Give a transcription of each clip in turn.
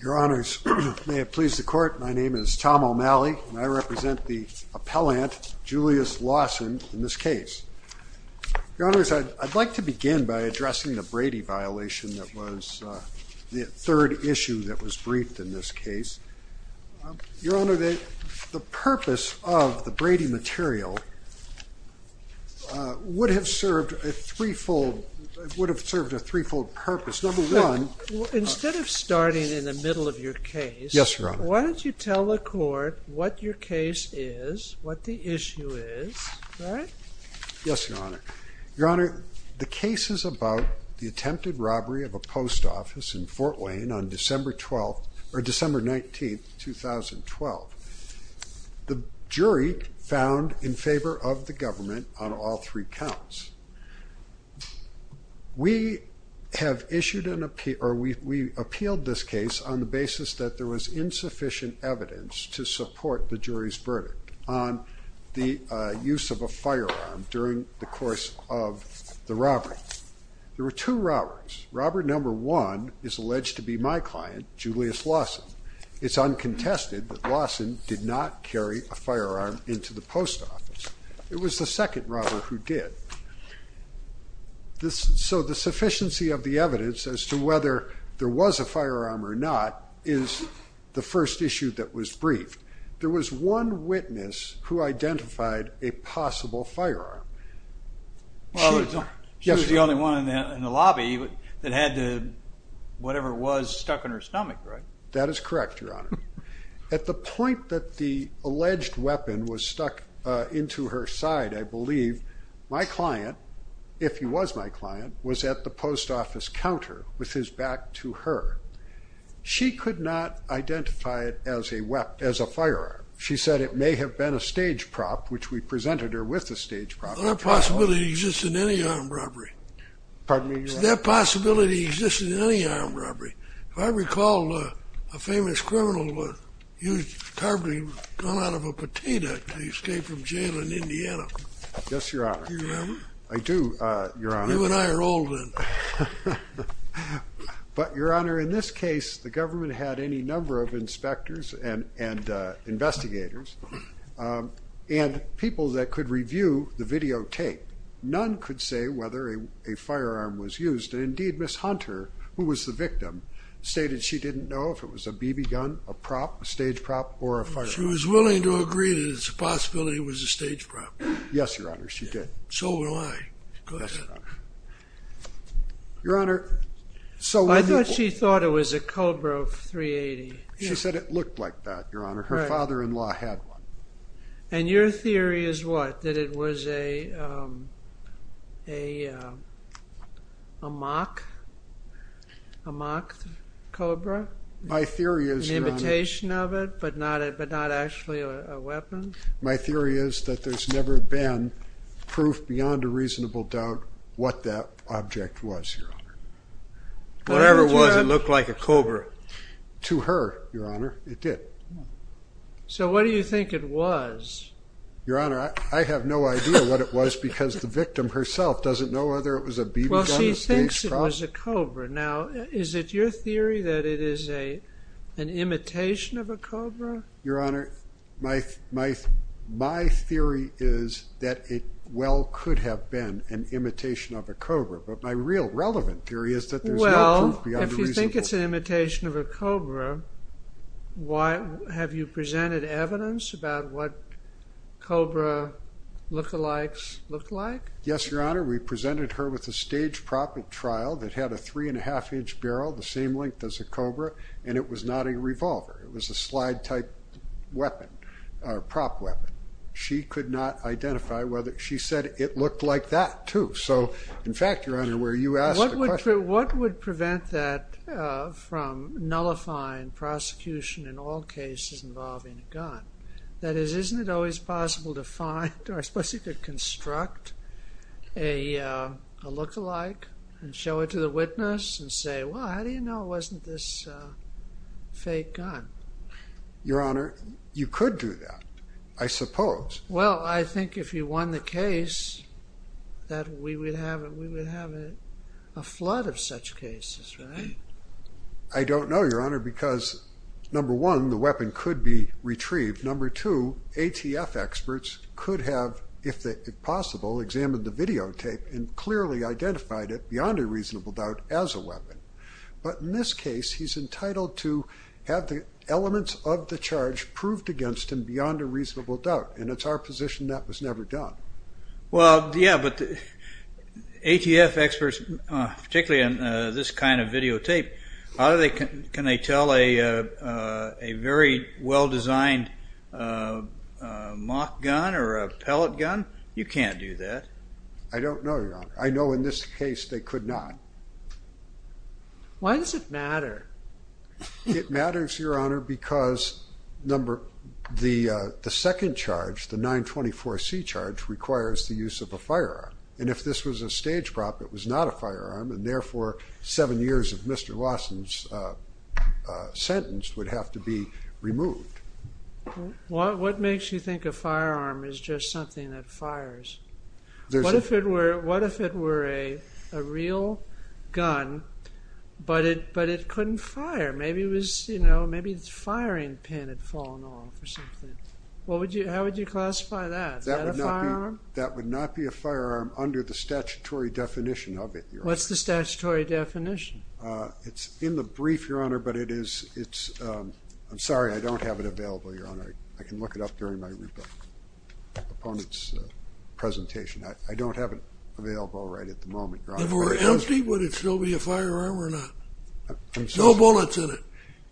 Your honors, may it please the court, my name is Tom O'Malley and I represent the appellant, Julius Lawson, in this case. Your honors, I'd like to begin by addressing the Brady violation that was the third issue that was briefed in this case. Your honor, the purpose of the Brady material would have served a threefold, would have served a threefold purpose. Number one, instead of starting in the middle of your case, why don't you tell the court what your case is, what the issue is, right? Yes, your honor. Your honor, the case is about the attempted robbery of a post office in Fort Wayne on December 12th, or December 19th, 2012. The jury found in favor of the government on all three counts. We have issued an appeal, or we appealed this case on the basis that there was insufficient evidence to support the jury's verdict on the use of a firearm during the course of the robbery. There were two robberies. Robber number one is alleged to be my client, Julius Lawson. It's uncontested that Lawson did not carry a firearm into the post office. It was the second robber who did. So the sufficiency of the whether there was a firearm or not is the first issue that was briefed. There was one witness who identified a possible firearm. Well, she was the only one in the lobby that had the whatever was stuck in her stomach, right? That is correct, your honor. At the point that the alleged weapon was stuck into her side, I believe my client, if he was my client, was at the post office counter with his back to her. She could not identify it as a firearm. She said it may have been a stage prop, which we presented her with a stage prop. That possibility exists in any armed robbery. Pardon me, your honor? That possibility exists in any armed robbery. If I recall, a famous criminal used a carbine gun out of a But your honor, in this case, the government had any number of inspectors and investigators and people that could review the videotape. None could say whether a firearm was used. Indeed, Miss Hunter, who was the victim, stated she didn't know if it was a BB gun, a prop, a stage prop, or a firearm. She was willing to agree that it's a I thought she thought it was a Cobra of .380. She said it looked like that, your honor. Her father-in-law had one. And your theory is what? That it was a mock Cobra? An imitation of it, but not actually a weapon? My theory is that there's never been proof beyond a reasonable doubt what that object was, your honor. Whatever it was, it looked like a Cobra. To her, your honor, it did. So what do you think it was? Your honor, I have no idea what it was because the victim herself doesn't know whether it was a BB gun, a stage prop. Well, she thinks it was a Cobra. Now, is it your theory that it is an imitation of a Cobra? Your honor, my theory is that it well could have been an imitation of a Cobra, but my real relevant theory is that there's no proof beyond a reasonable doubt. Well, if you think it's an imitation of a Cobra, have you presented evidence about what Cobra look-alikes look like? Yes, your honor. We presented her with a stage prop at trial that had a three-and-a-half-inch barrel the same length as a Cobra, and it was not a revolver. It was a slide-type weapon, a prop weapon. She could not identify whether... She said it looked like that, too. So, in fact, your honor, where you asked the question... What would prevent that from nullifying prosecution in all cases involving a gun? That is, isn't it always possible to find, or I suppose you could construct, a look-alike and show it to the witness and say, well, how do you know it wasn't this fake gun? Your honor, you could do that, I suppose. Well, I think if you won the case that we would have a flood of such cases, right? I don't know, your honor, because, number one, the weapon could be retrieved. Number two, ATF experts could have, if possible, examined the videotape and clearly identified it, beyond a reasonable doubt, as a weapon. But in this case, he's entitled to have the elements of the charge proved against him beyond a reasonable doubt, and it's our position that was never done. Well, yeah, but ATF experts, particularly on this kind of videotape, can they tell a very well-designed mock gun or a pellet gun? You can't do that. I don't know, your honor. I know in this case they could not. Why does it matter? It matters, your honor, because the second charge, the 924C charge, requires the use of a firearm. And if this was a stage prop, it was not a firearm, and therefore seven years of Mr. Lawson's sentence would have to be removed. What makes you think a firearm is just something that fires? What if it were a real gun, but it couldn't fire? Maybe the firing pin had fallen off or something. How would you classify that? Is that a firearm? That would not be a firearm under the statutory definition of it, your honor. What's the statutory definition? It's in the brief, your honor, but it is—I'm sorry, I don't have it available, your honor. I can look it up during my opponent's presentation. I don't have it available right at the moment, your honor. If it were empty, would it still be a firearm or not? No bullets in it.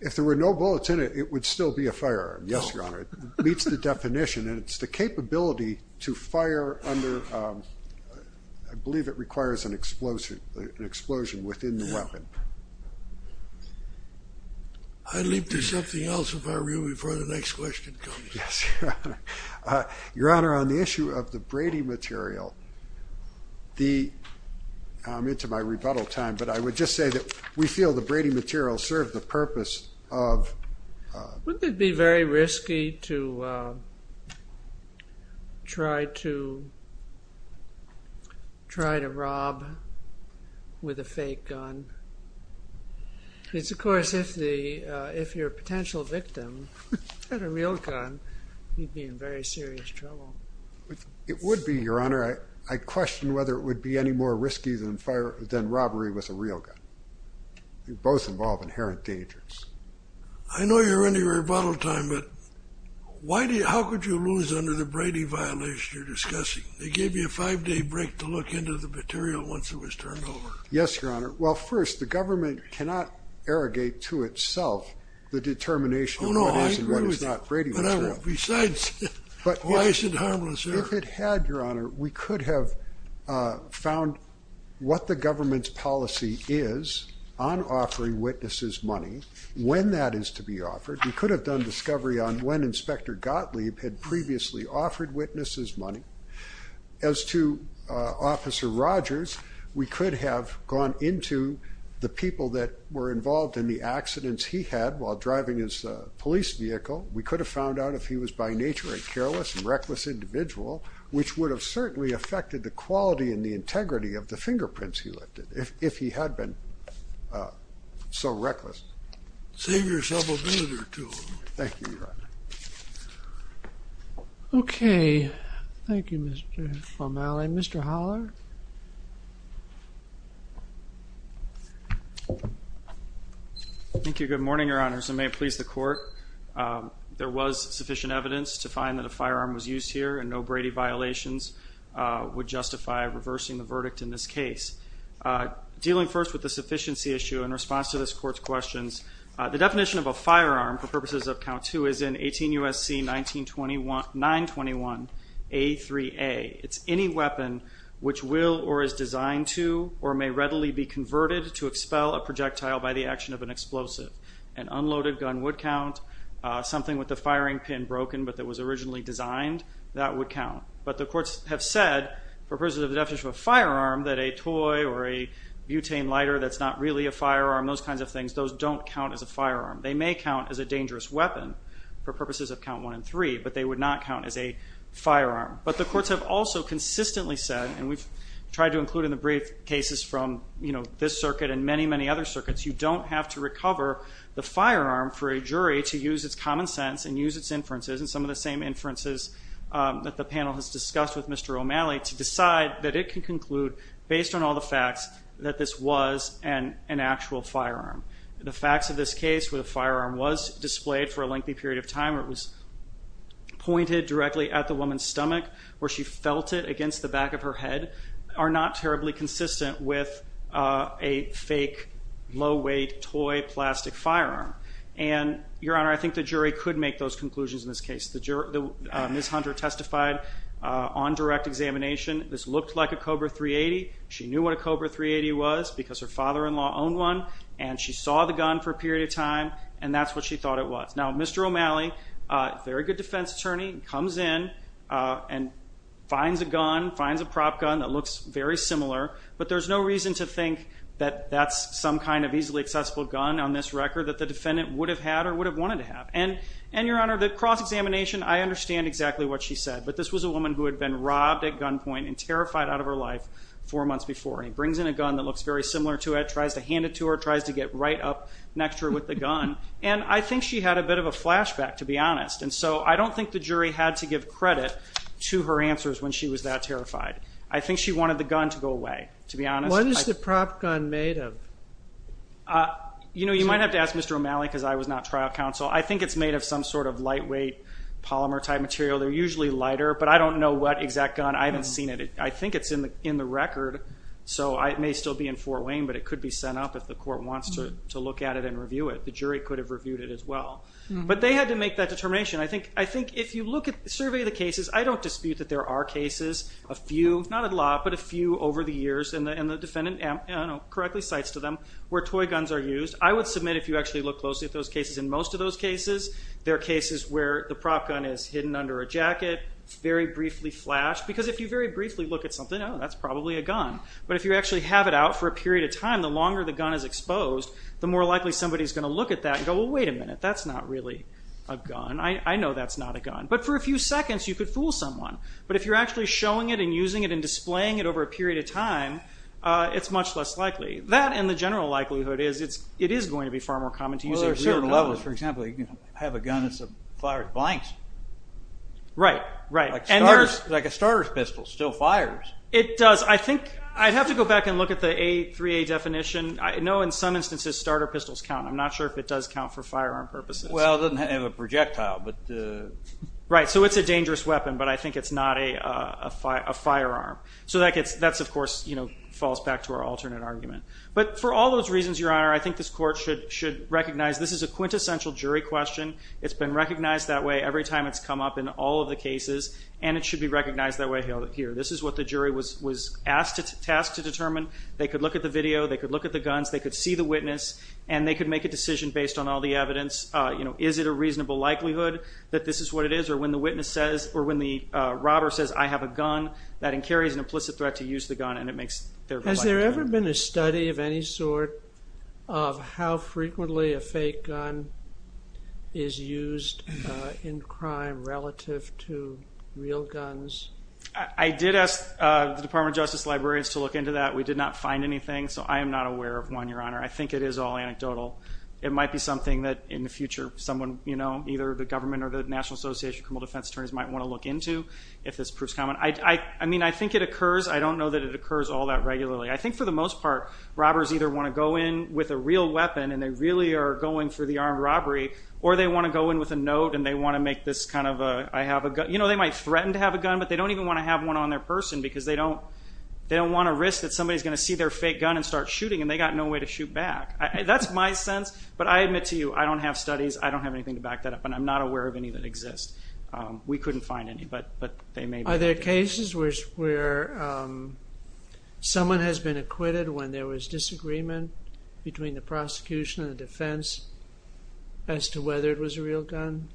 If there were no bullets in it, it would still be a firearm, yes, your honor. It meets the definition, and it's the capability to fire under—I believe it requires an explosion within the weapon. I'd leap to something else if I were you before the next question comes in. Yes, your honor. Your honor, on the issue of the Brady material, the—I'm into my rebuttal time, but I would just say that we feel the Brady material served the purpose of— try to rob with a fake gun. It's, of course, if the—if your potential victim had a real gun, he'd be in very serious trouble. It would be, your honor. I question whether it would be any more risky than robbery with a real gun. They both involve inherent dangers. I know you're into your rebuttal time, but how could you lose under the Brady violation you're discussing? They gave you a five-day break to look into the material once it was turned over. Yes, your honor. Well, first, the government cannot arrogate to itself the determination of what is and what is not Brady material. Besides, why is it harmless there? If it had, your honor, we could have found what the government's policy is on offering witnesses money, when that is to be offered. We could have done discovery on when Inspector Gottlieb had previously offered witnesses money. As to Officer Rogers, we could have gone into the people that were involved in the accidents he had while driving his police vehicle. We could have found out if he was by nature a careless and reckless individual, which would have certainly affected the quality and the integrity of the fingerprints he lifted, if he had been so reckless. Save yourself a visitor, too. Thank you, your honor. Okay. Thank you, Mr. Formale. Mr. Holler? Thank you. Good morning, your honor. And may it please the court, there was sufficient evidence to find that a firearm was used here and no Brady violations would justify reversing the verdict in this case. Dealing first with the sufficiency issue in response to this court's questions, the definition of a firearm for purposes of count two is in 18 U.S.C. 921A3A. It's any weapon which will or is designed to or may readily be converted to expel a projectile by the action of an explosive. An unloaded gun would count. Something with the firing pin broken but that was originally designed, that would count. But the courts have said, for purposes of the definition of a firearm, that a toy or a butane lighter that's not really a firearm, those kinds of things, those don't count as a firearm. They may count as a dangerous weapon for purposes of count one and three, but they would not count as a firearm. But the courts have also consistently said, and we've tried to include in the brief cases from this circuit and many, many other circuits, you don't have to recover the firearm for a jury to use its common sense and use its inferences and some of the same inferences that the panel has discussed with Mr. O'Malley to decide that it can conclude, based on all the facts, that this was an actual firearm. The facts of this case where the firearm was displayed for a lengthy period of time, where it was pointed directly at the woman's stomach, where she felt it against the back of her head, are not terribly consistent with a fake, low-weight, toy, plastic firearm. And, Your Honor, I think the jury could make those conclusions in this case. Ms. Hunter testified on direct examination. This looked like a Cobra 380. She knew what a Cobra 380 was because her father-in-law owned one, and she saw the gun for a period of time, and that's what she thought it was. Now, Mr. O'Malley, very good defense attorney, comes in and finds a gun, finds a prop gun that looks very similar, but there's no reason to think that that's some kind of easily accessible gun on this record that the defendant would have had or would have wanted to have. And, Your Honor, the cross-examination, I understand exactly what she said, but this was a woman who had been robbed at gunpoint and terrified out of her life four months before, and he brings in a gun that looks very similar to it, tries to hand it to her, tries to get right up next to her with the gun, and I think she had a bit of a flashback, to be honest. And so I don't think the jury had to give credit to her answers when she was that terrified. I think she wanted the gun to go away, to be honest. What is the prop gun made of? You know, you might have to ask Mr. O'Malley because I was not trial counsel. I think it's made of some sort of lightweight polymer-type material. They're usually lighter, but I don't know what exact gun. I haven't seen it. I think it's in the record, so it may still be in Fort Wayne, but it could be sent up if the court wants to look at it and review it. The jury could have reviewed it as well. But they had to make that determination. I think if you look at the survey of the cases, I don't dispute that there are cases, a few, not a lot, but a few over the years, and the defendant correctly cites to them, where toy guns are used. I would submit if you actually look closely at those cases, in most of those cases, there are cases where the prop gun is hidden under a jacket, very briefly flashed, because if you very briefly look at something, oh, that's probably a gun. But if you actually have it out for a period of time, the longer the gun is exposed, the more likely somebody is going to look at that and go, well, wait a minute. That's not really a gun. I know that's not a gun. But for a few seconds, you could fool someone. But if you're actually showing it and using it and displaying it over a period of time, it's much less likely. That and the general likelihood is it is going to be far more common to use a real gun. Well, there are certain levels. For example, you can have a gun that's fired at blanks. Right, right. Like a starter's pistol, still fires. It does. I think I'd have to go back and look at the A3A definition. I know in some instances starter pistols count. I'm not sure if it does count for firearm purposes. Well, it doesn't have a projectile. Right, so it's a dangerous weapon, but I think it's not a firearm. So that, of course, falls back to our alternate argument. But for all those reasons, Your Honor, I think this Court should recognize this is a quintessential jury question. It's been recognized that way every time it's come up in all of the cases, and it should be recognized that way here. This is what the jury was tasked to determine. They could look at the video. They could look at the guns. They could see the witness, and they could make a decision based on all the evidence. Is it a reasonable likelihood that this is what it is? Or when the witness says, or when the robber says, I have a gun, that incarries an implicit threat to use the gun, and it makes their life difficult. Has there ever been a study of any sort of how frequently a fake gun is used in crime relative to real guns? I did ask the Department of Justice librarians to look into that. We did not find anything. So I am not aware of one, Your Honor. I think it is all anecdotal. It might be something that in the future someone, you know, either the government or the National Association of Criminal Defense Attorneys might want to look into, if this proves common. I mean, I think it occurs. I don't know that it occurs all that regularly. I think for the most part, robbers either want to go in with a real weapon, and they really are going for the armed robbery, or they want to go in with a note, and they want to make this kind of a, I have a gun. You know, they might threaten to have a gun, but they don't even want to have one on their person, because they don't want to risk that somebody is going to see their fake gun and start shooting, and they've got no way to shoot back. That's my sense, but I admit to you, I don't have studies. I don't have anything to back that up, and I'm not aware of any that exist. We couldn't find any, but they may be. Are there cases where someone has been acquitted when there was disagreement between the prosecution and the defense as to whether it was a real gun?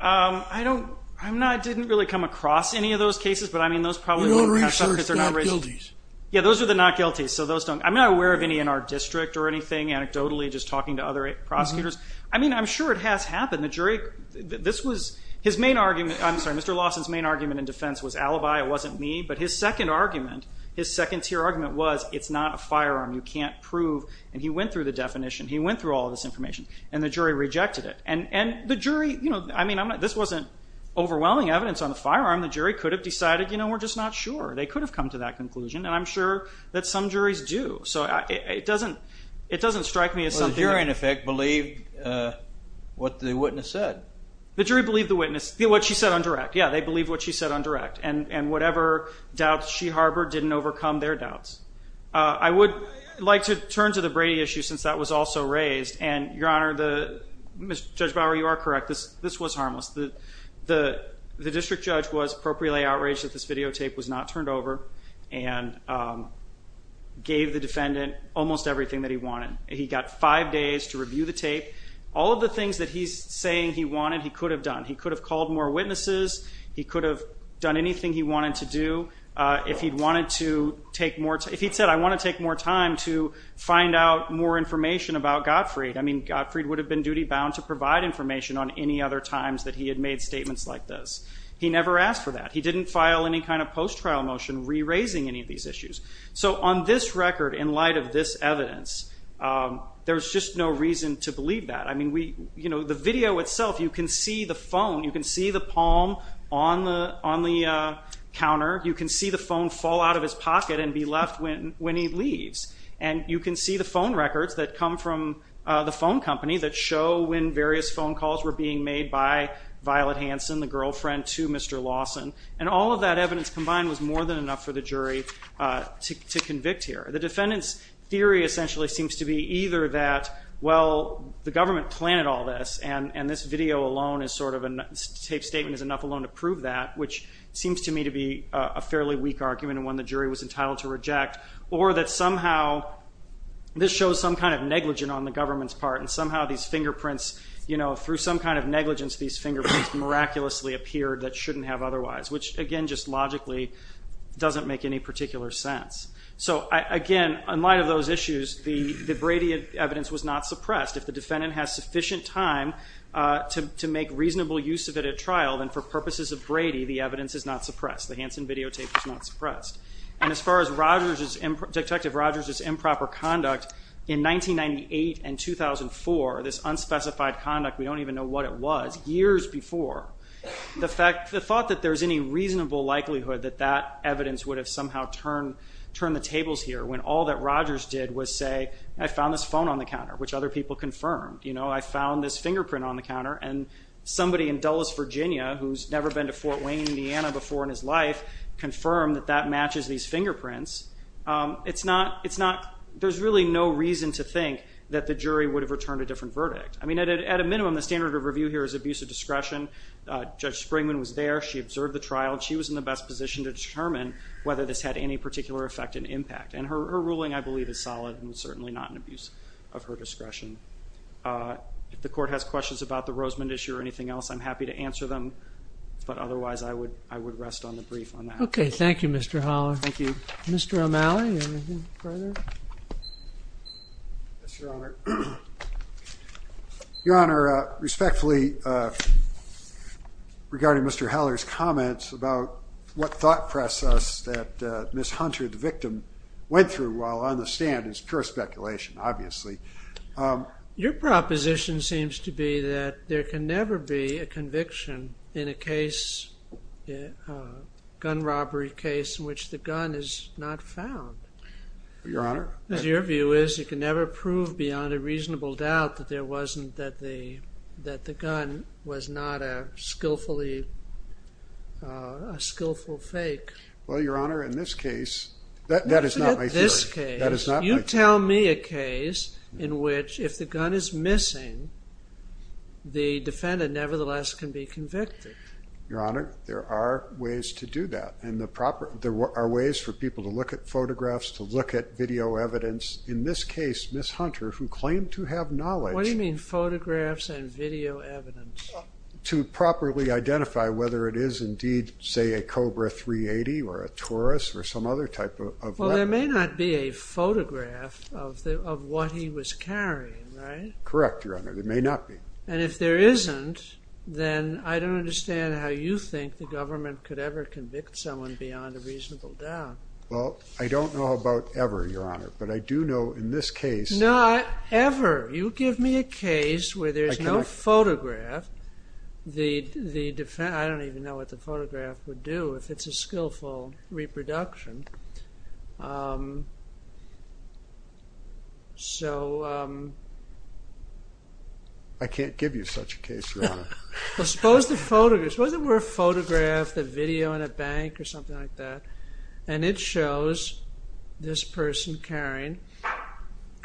I didn't really come across any of those cases, but I mean, those probably wouldn't have happened. You don't research not-guilties? Yeah, those are the not-guilties. I'm not aware of any in our district or anything, anecdotally, just talking to other prosecutors. I mean, I'm sure it has happened. The jury, this was, his main argument, I'm sorry, Mr. Lawson's main argument in defense was alibi. It wasn't me, but his second argument, his second-tier argument was it's not a firearm. You can't prove, and he went through the definition. He went through all of this information, and the jury rejected it, and the jury, you know, I mean, this wasn't overwhelming evidence on the firearm. The jury could have decided, you know, we're just not sure. They could have come to that conclusion, and I'm sure that some juries do. So it doesn't strike me as something that- Well, the jury, in effect, believed what the witness said. The jury believed the witness, what she said on direct. Yeah, they believed what she said on direct, and whatever doubts she harbored didn't overcome their doubts. I would like to turn to the Brady issue since that was also raised, and, Your Honor, Judge Bower, you are correct. This was harmless. The district judge was appropriately outraged that this videotape was not turned over and gave the defendant almost everything that he wanted. He got five days to review the tape. All of the things that he's saying he wanted, he could have done. He could have called more witnesses. He could have done anything he wanted to do. If he'd wanted to take more time, If he'd said, I want to take more time to find out more information about Gottfried, I mean, Gottfried would have been duty-bound to provide information on any other times that he had made statements like this. He never asked for that. He didn't file any kind of post-trial motion re-raising any of these issues. So on this record, in light of this evidence, there's just no reason to believe that. I mean, the video itself, you can see the phone. You can see the palm on the counter. You can see the phone fall out of his pocket and be left when he leaves. And you can see the phone records that come from the phone company that show when various phone calls were being made by Violet Hansen, the girlfriend to Mr. Lawson. And all of that evidence combined was more than enough for the jury to convict here. The defendant's theory essentially seems to be either that, well, the government planted all this and this video alone is sort of a tape statement is enough alone to prove that, which seems to me to be a fairly weak argument and one the jury was entitled to reject, or that somehow this shows some kind of negligence on the government's part and somehow these fingerprints, you know, through some kind of negligence, these fingerprints miraculously appeared that shouldn't have otherwise, which again just logically doesn't make any particular sense. So, again, in light of those issues, the Brady evidence was not suppressed. If the defendant has sufficient time to make reasonable use of it at trial, then for purposes of Brady, the evidence is not suppressed. The Hansen videotape is not suppressed. And as far as Detective Rogers' improper conduct, in 1998 and 2004, this unspecified conduct, we don't even know what it was, years before, the thought that there's any reasonable likelihood that that evidence would have somehow turned the tables here when all that Rogers did was say, I found this phone on the counter, which other people confirmed. You know, I found this fingerprint on the counter and somebody in Dulles, Virginia, who's never been to Fort Wayne, Indiana before in his life, confirmed that that matches these fingerprints. It's not, it's not, there's really no reason to think that the jury would have returned a different verdict. I mean, at a minimum, the standard of review here is abuse of discretion. Judge Springman was there. She observed the trial. She was in the best position to determine whether this had any particular effect and impact. And her ruling, I believe, is solid and certainly not an abuse of her discretion. If the court has questions about the Rosemond issue or anything else, I'm happy to answer them. But otherwise, I would rest on the brief on that. Okay, thank you, Mr. Haller. Thank you. Mr. O'Malley, anything further? Yes, Your Honor. Your Honor, respectfully, regarding Mr. Haller's comments about what thought process that Miss Hunter, the victim, went through while on the stand is pure speculation, obviously. Your proposition seems to be that there can never be a conviction in a case, a gun robbery case, in which the gun is not found. Your Honor? Your view is you can never prove beyond a reasonable doubt that the gun was not a skillful fake. Well, Your Honor, in this case, that is not my theory. You tell me a case in which if the gun is missing, the defendant nevertheless can be convicted. Your Honor, there are ways to do that. There are ways for people to look at photographs, to look at video evidence. In this case, Miss Hunter, who claimed to have knowledge. What do you mean photographs and video evidence? To properly identify whether it is indeed, say, a Cobra 380 or a Taurus or some other type of weapon. Well, there may not be a photograph of what he was carrying, right? Correct, Your Honor. There may not be. And if there isn't, then I don't understand how you think the government could ever convict someone beyond a reasonable doubt. Well, I don't know about ever, Your Honor, but I do know in this case. Not ever. You give me a case where there's no photograph. I don't even know what the photograph would do if it's a skillful reproduction. I can't give you such a case, Your Honor. Well, suppose there were a photograph, a video in a bank or something like that. And it shows this person carrying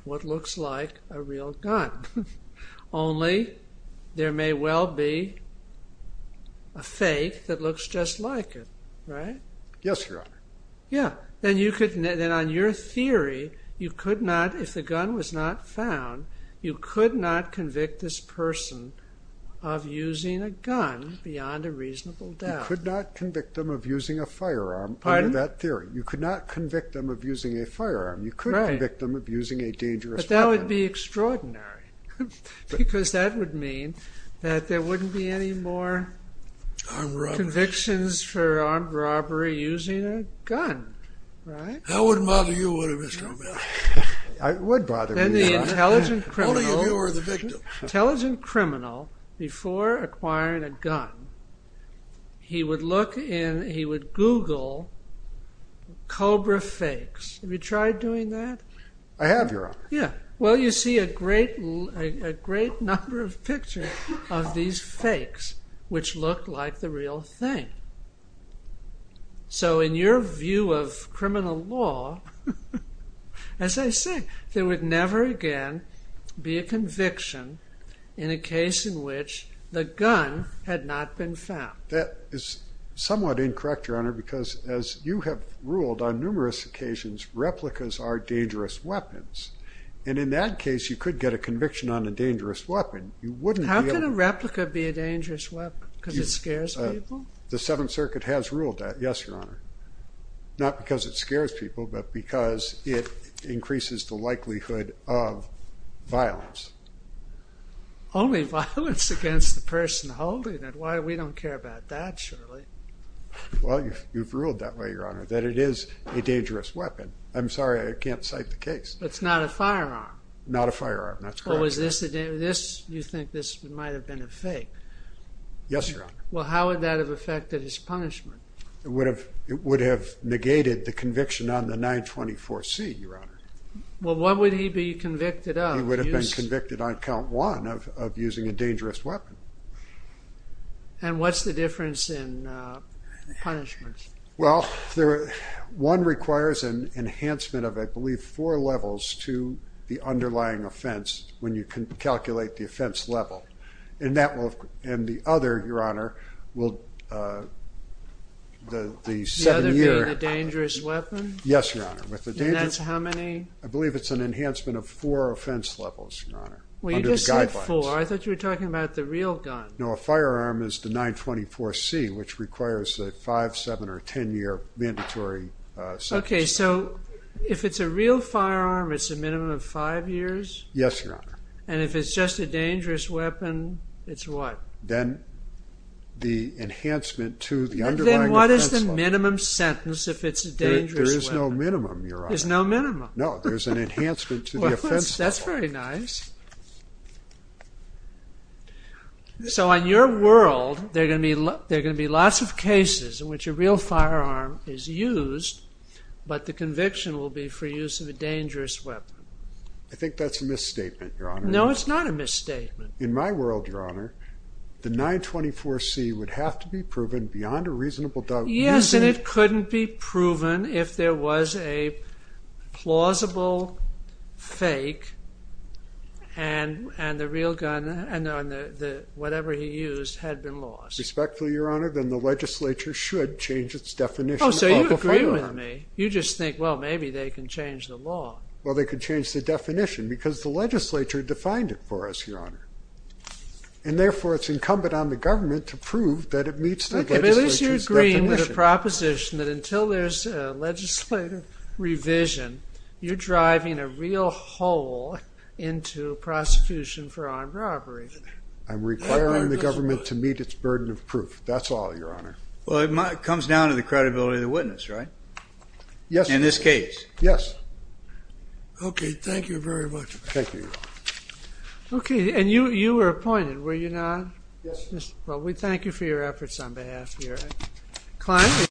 what looks like a real gun. Only, there may well be a fake that looks just like it, right? Yes, Your Honor. Yes. Then on your theory, you could not, if the gun was not found, you could not convict this person of using a gun beyond a reasonable doubt. You could not convict them of using a firearm under that theory. Pardon? You could not convict them of using a firearm. You could convict them of using a dangerous weapon. That wouldn't bother you, would it, Mr. O'Malley? It would bother me, Your Honor. Only if you were the victim. Intelligent criminal, before acquiring a gun, he would look in, he would Google cobra fakes. Have you tried doing that? I have, Your Honor. Yeah. Well, you see a great number of pictures of these fakes, which look like the real thing. So, in your view of criminal law, as I say, there would never again be a conviction in a case in which the gun had not been found. That is somewhat incorrect, Your Honor, because as you have ruled on numerous occasions, replicas are dangerous weapons. And in that case, you could get a conviction on a dangerous weapon. How can a replica be a dangerous weapon? Because it scares people? The Seventh Circuit has ruled that, yes, Your Honor. Not because it scares people, but because it increases the likelihood of violence. Only violence against the person holding it. Why, we don't care about that, surely. Well, you've ruled that way, Your Honor, that it is a dangerous weapon. I'm sorry, I can't cite the case. It's not a firearm? Not a firearm, that's correct. Well, was this, you think this might have been a fake? Yes, Your Honor. Well, how would that have affected his punishment? It would have negated the conviction on the 924C, Your Honor. Well, what would he be convicted of? He would have been convicted on count one of using a dangerous weapon. And what's the difference in punishments? Well, one requires an enhancement of, I believe, four levels to the underlying offense when you can calculate the offense level. And that will, and the other, Your Honor, will, the seven-year... The other being the dangerous weapon? Yes, Your Honor. And that's how many? I believe it's an enhancement of four offense levels, Your Honor, under the guidelines. Well, you just said four. I thought you were talking about the real gun. No, a firearm is the 924C, which requires a five-, seven-, or ten-year mandatory sentence. Okay, so if it's a real firearm, it's a minimum of five years? Yes, Your Honor. And if it's just a dangerous weapon, it's what? Then the enhancement to the underlying offense level. Then what is the minimum sentence if it's a dangerous weapon? There is no minimum, Your Honor. There's no minimum? No, there's an enhancement to the offense level. Well, that's very nice. So, in your world, there are going to be lots of cases in which a real firearm is used, but the conviction will be for use of a dangerous weapon. I think that's a misstatement, Your Honor. No, it's not a misstatement. In my world, Your Honor, the 924C would have to be proven beyond a reasonable doubt. Yes, and it couldn't be proven if there was a plausible fake, and the real gun and whatever he used had been lost. Respectfully, Your Honor, then the legislature should change its definition of a firearm. Oh, so you agree with me. You just think, well, maybe they can change the law. Well, they could change the definition because the legislature defined it for us, Your Honor, and therefore it's incumbent on the government to prove that it meets the legislature's definition. Okay, but at least you're agreeing with the proposition that until there's legislative revision, you're driving a real hole into prosecution for armed robbery. I'm requiring the government to meet its burden of proof. That's all, Your Honor. Well, it comes down to the credibility of the witness, right? Yes. In this case. Yes. Okay, thank you very much. Thank you, Your Honor. Okay, and you were appointed, were you not? Yes. Well, we thank you for your efforts on behalf of your client.